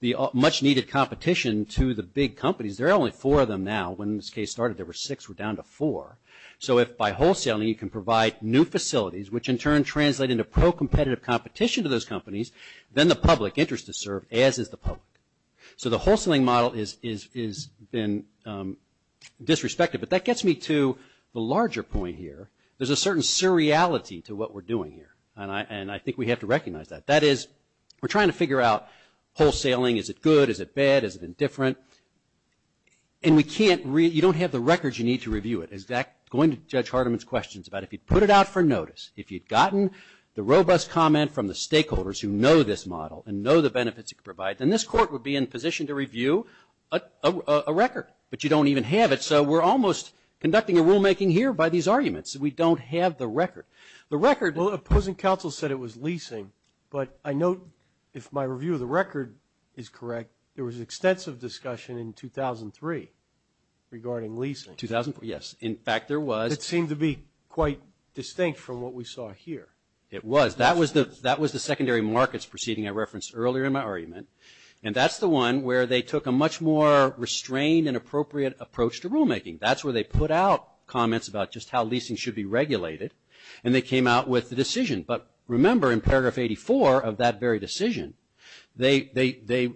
the much-needed competition to the big companies – there are only four of them now. When this case started, there were six. We're down to four. So if by wholesaling, you can provide new facilities, which in turn translate into pro-competitive competition to those companies, then the public interest is served, as is the public. So the wholesaling model has been disrespected, but that gets me to the larger point here. There's a certain surreality to what we're doing here, and I think we have to recognize that. That is, we're trying to figure out, wholesaling, is it good, is it bad, is it indifferent? And we can't – you don't have the records you need to review it. Going to Judge Hardiman's questions about if you put it out for notice, if you'd gotten the robust comment from the stakeholders who know this model and know the benefits it can provide, then this Court would be in position to review a record. But you don't even have it, so we're almost conducting a rulemaking here by these arguments. We don't have the record. The record – Well, opposing counsel said it was leasing, but I note, if my review of the record is correct, there was extensive discussion in 2003 regarding leasing. 2004, yes. In fact, there was – It seemed to be quite distinct from what we saw here. It was. That was the secondary markets proceeding I referenced earlier in my argument. And that's the one where they took a much more restrained and appropriate approach to rulemaking. That's where they put out comments about just how leasing should be regulated, and they came out with the decision. But remember, in paragraph 84 of that very decision, they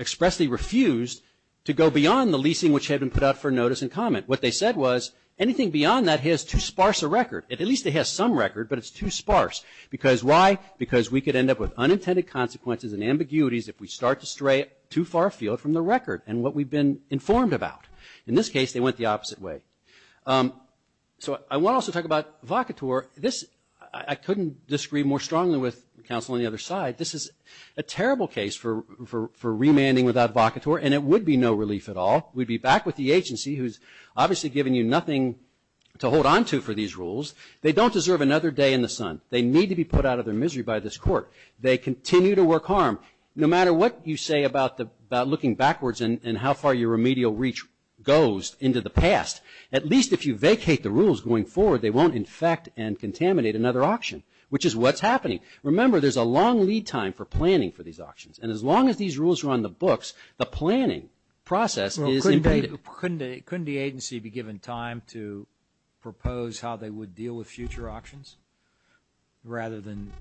expressly refused to go beyond the leasing which had been put out for notice and comment. What they said was, anything beyond that has too sparse a record. At least it has some record, but it's too sparse. Because why? Because we could end up with unintended consequences and ambiguities if we start to stray too far afield from the record and what we've been informed about. In this case, they went the opposite way. So I want to also talk about Vocator. I couldn't disagree more strongly with counsel on the other side. This is a terrible case for remanding without Vocator, and it would be no relief at all. We'd be back with the agency who's obviously given you nothing to hold onto for these rules. They don't deserve another day in the sun. They need to be put out of their misery by this court. They continue to work harm. No matter what you say about looking backwards and how far your remedial reach goes into the past, at least if you vacate the rules going forward, they won't infect and contaminate another auction, which is what's happening. Remember, there's a long lead time for planning for these auctions, and as long as these rules are on the books, the planning process is invaded. Couldn't the agency be given time to propose how they would deal with future auctions rather than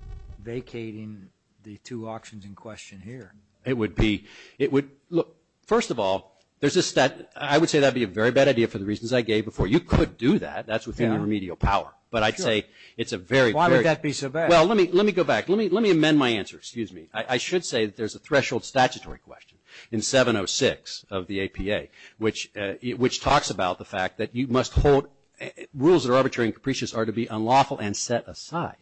vacating the two auctions in question here? It would be. Look, first of all, I would say that would be a very bad idea for the reasons I gave before. You could do that. That's within your remedial power. But I'd say it's a very... Why would that be so bad? Well, let me go back. Let me amend my answer. Excuse me. I should say that there's a threshold statutory question in 706 of the APA, which talks about the fact that you must hold rules that are arbitrary and capricious are to be unlawful and set aside.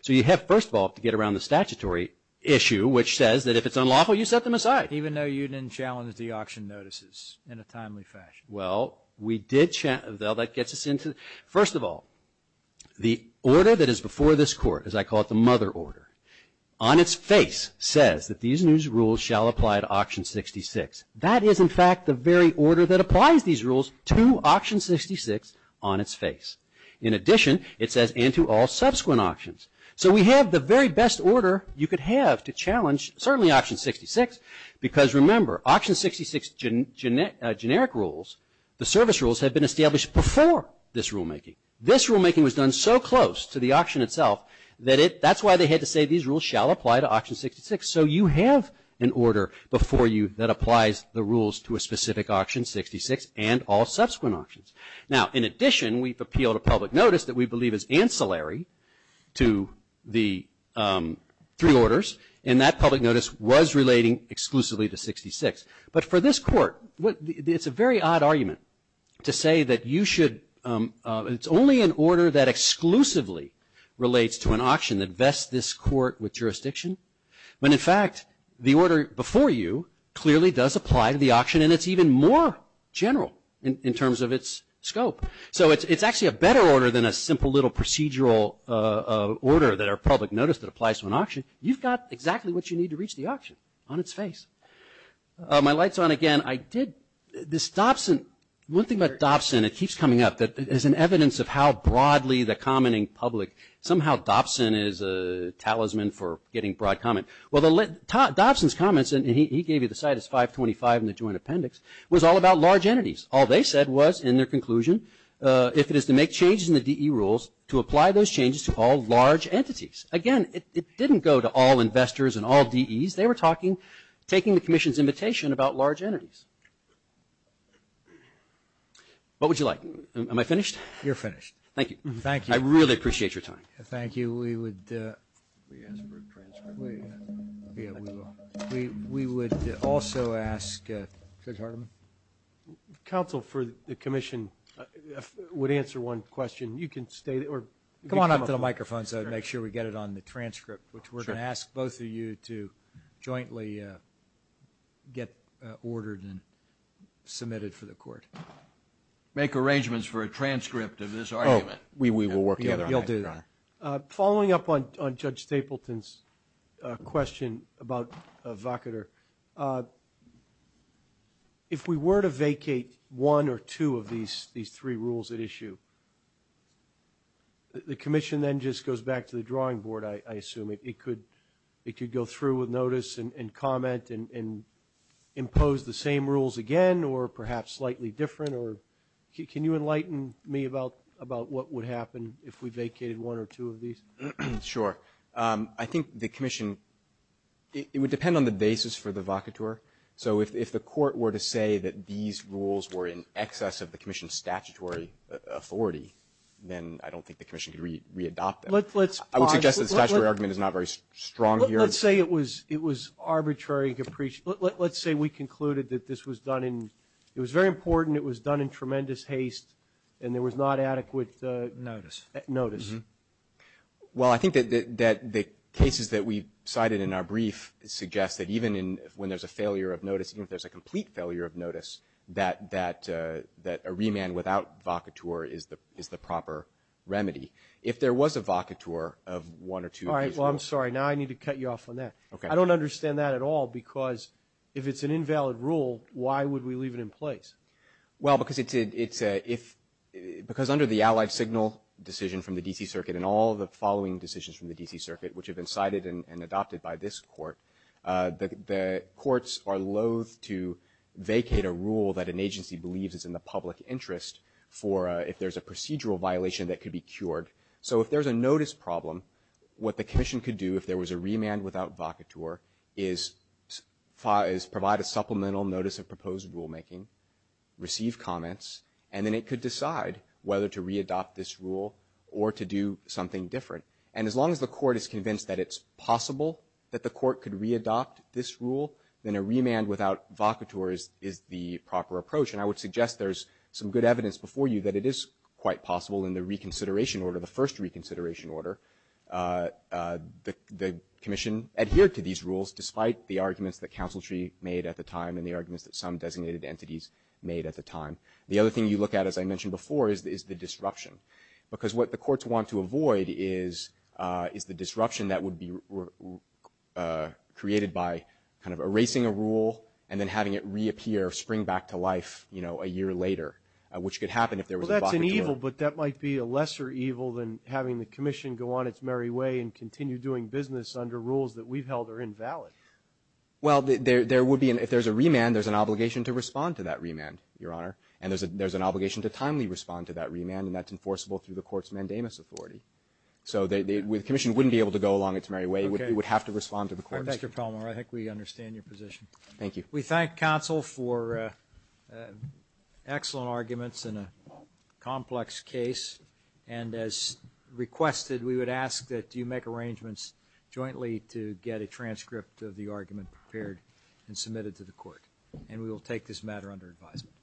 So you have, first of all, to get around the statutory issue, which says that if it's unlawful, you set them aside. Even though you didn't challenge the auction notices in a timely fashion. Well, we did challenge... That gets us into... The order that is before this court, as I call it the mother order, on its face says that these new rules shall apply to auction 66. That is, in fact, the very order that applies these rules to auction 66 on its face. In addition, it says, and to all subsequent auctions. So we have the very best order you could have to challenge, certainly, auction 66. Because remember, auction 66 generic rules, the service rules, have been established before this rulemaking. This rulemaking was done so close to the auction itself that that's why they had to say these rules shall apply to auction 66. So you have an order before you that applies the rules to a specific auction, 66, and all subsequent auctions. Now, in addition, we've appealed a public notice that we believe is ancillary to the three orders, and that public notice was relating exclusively to 66. But for this court, it's a very odd argument to say that you should... It's only an order that exclusively relates to an auction that vests this court with jurisdiction. When, in fact, the order before you clearly does apply to the auction, and it's even more general in terms of its scope. So it's actually a better order than a simple little procedural order that our public notice that applies to an auction. You've got exactly what you need to reach the auction on its face. My light's on again. I did... This Dobson... One thing about Dobson, it keeps coming up, that is an evidence of how broadly the commenting public... Somehow, Dobson is a talisman for getting broad comment. Well, Dobson's comments, and he gave you the site as 525 in the joint appendix, was all about large entities. All they said was, in their conclusion, if it is to make changes in the DE rules, to apply those changes to all large entities. Again, it didn't go to all investors and all DEs. They were talking, taking the Commission's invitation about large entities. What would you like? Am I finished? You're finished. Thank you. Thank you. I really appreciate your time. Thank you. We would... We asked for a transcript. We... Yeah, we will. We would also ask Judge Hardeman. Counsel for the Commission would answer one question. You can stay or... Come on up to the microphone. Sure. We want to make sure we get it on the transcript, which we're going to ask both of you to jointly get ordered and submitted for the Court. Make arrangements for a transcript of this argument. Oh, we will work together on that, Your Honor. You'll do that. Following up on Judge Stapleton's question about a vocator, if we were to vacate one or two of these three rules at issue, the Commission then just goes back to the drawing board, I assume. It could go through with notice and comment and impose the same rules again or perhaps slightly different or... Can you enlighten me about what would happen if we vacated one or two of these? Sure. I think the Commission... It would depend on the basis for the vocator. So if the Court were to say that these rules were in excess of the Commission's statutory authority, then I don't think the Commission could re-adopt them. I would suggest that the statutory argument is not very strong here. Let's say it was arbitrary and capricious. Let's say we concluded that this was done in... It was very important. It was done in tremendous haste, and there was not adequate... Notice. Notice. Well, I think that the cases that we cited in our brief suggest that even when there's a failure of notice, even if there's a complete failure of notice, that a remand without vocator is the proper remedy. If there was a vocator of one or two of these rules... All right. Well, I'm sorry. Now I need to cut you off on that. Okay. I don't understand that at all because if it's an invalid rule, why would we leave it in place? Well, because it's a... Because under the Allied Signal decision from the D.C. Circuit and all the following decisions from the D.C. Circuit, which have been cited and adopted by this Court, the Courts are loath to vacate a rule that an agency believes is in the public interest for if there's a procedural violation that could be cured. So if there's a notice problem, what the Commission could do if there was a remand without vocator is provide a supplemental notice of proposed rulemaking, receive comments, and then it could decide whether to re-adopt this rule or to do something different. And as long as the Court is convinced that it's possible that the Court could re-adopt this rule, then a remand without vocator is the proper approach, and I would suggest there's some good evidence before you that it is quite possible in the reconsideration order, the Commission adhered to these rules despite the arguments that Council Tree made at the time and the arguments that some designated entities made at the time. The other thing you look at, as I mentioned before, is the disruption. Because what the Courts want to avoid is the disruption that would be created by kind of erasing a rule and then having it reappear, spring back to life, you know, a year later, which could happen if there was a vocator. Well, that's an evil, but that might be a lesser evil than having the Commission go on its merry way and continue doing business under rules that we've held are invalid. Well, there would be, if there's a remand, there's an obligation to respond to that remand, Your Honor, and there's an obligation to timely respond to that remand, and that's enforceable through the Court's mandamus authority. So, the Commission wouldn't be able to go along its merry way. It would have to respond to the Court. Thank you, Palmore. I think we understand your position. Thank you. We thank Council for excellent arguments in a complex case, and as requested, we would ask that you make arrangements jointly to get a transcript of the argument prepared and submitted to the Court, and we will take this matter under advisement.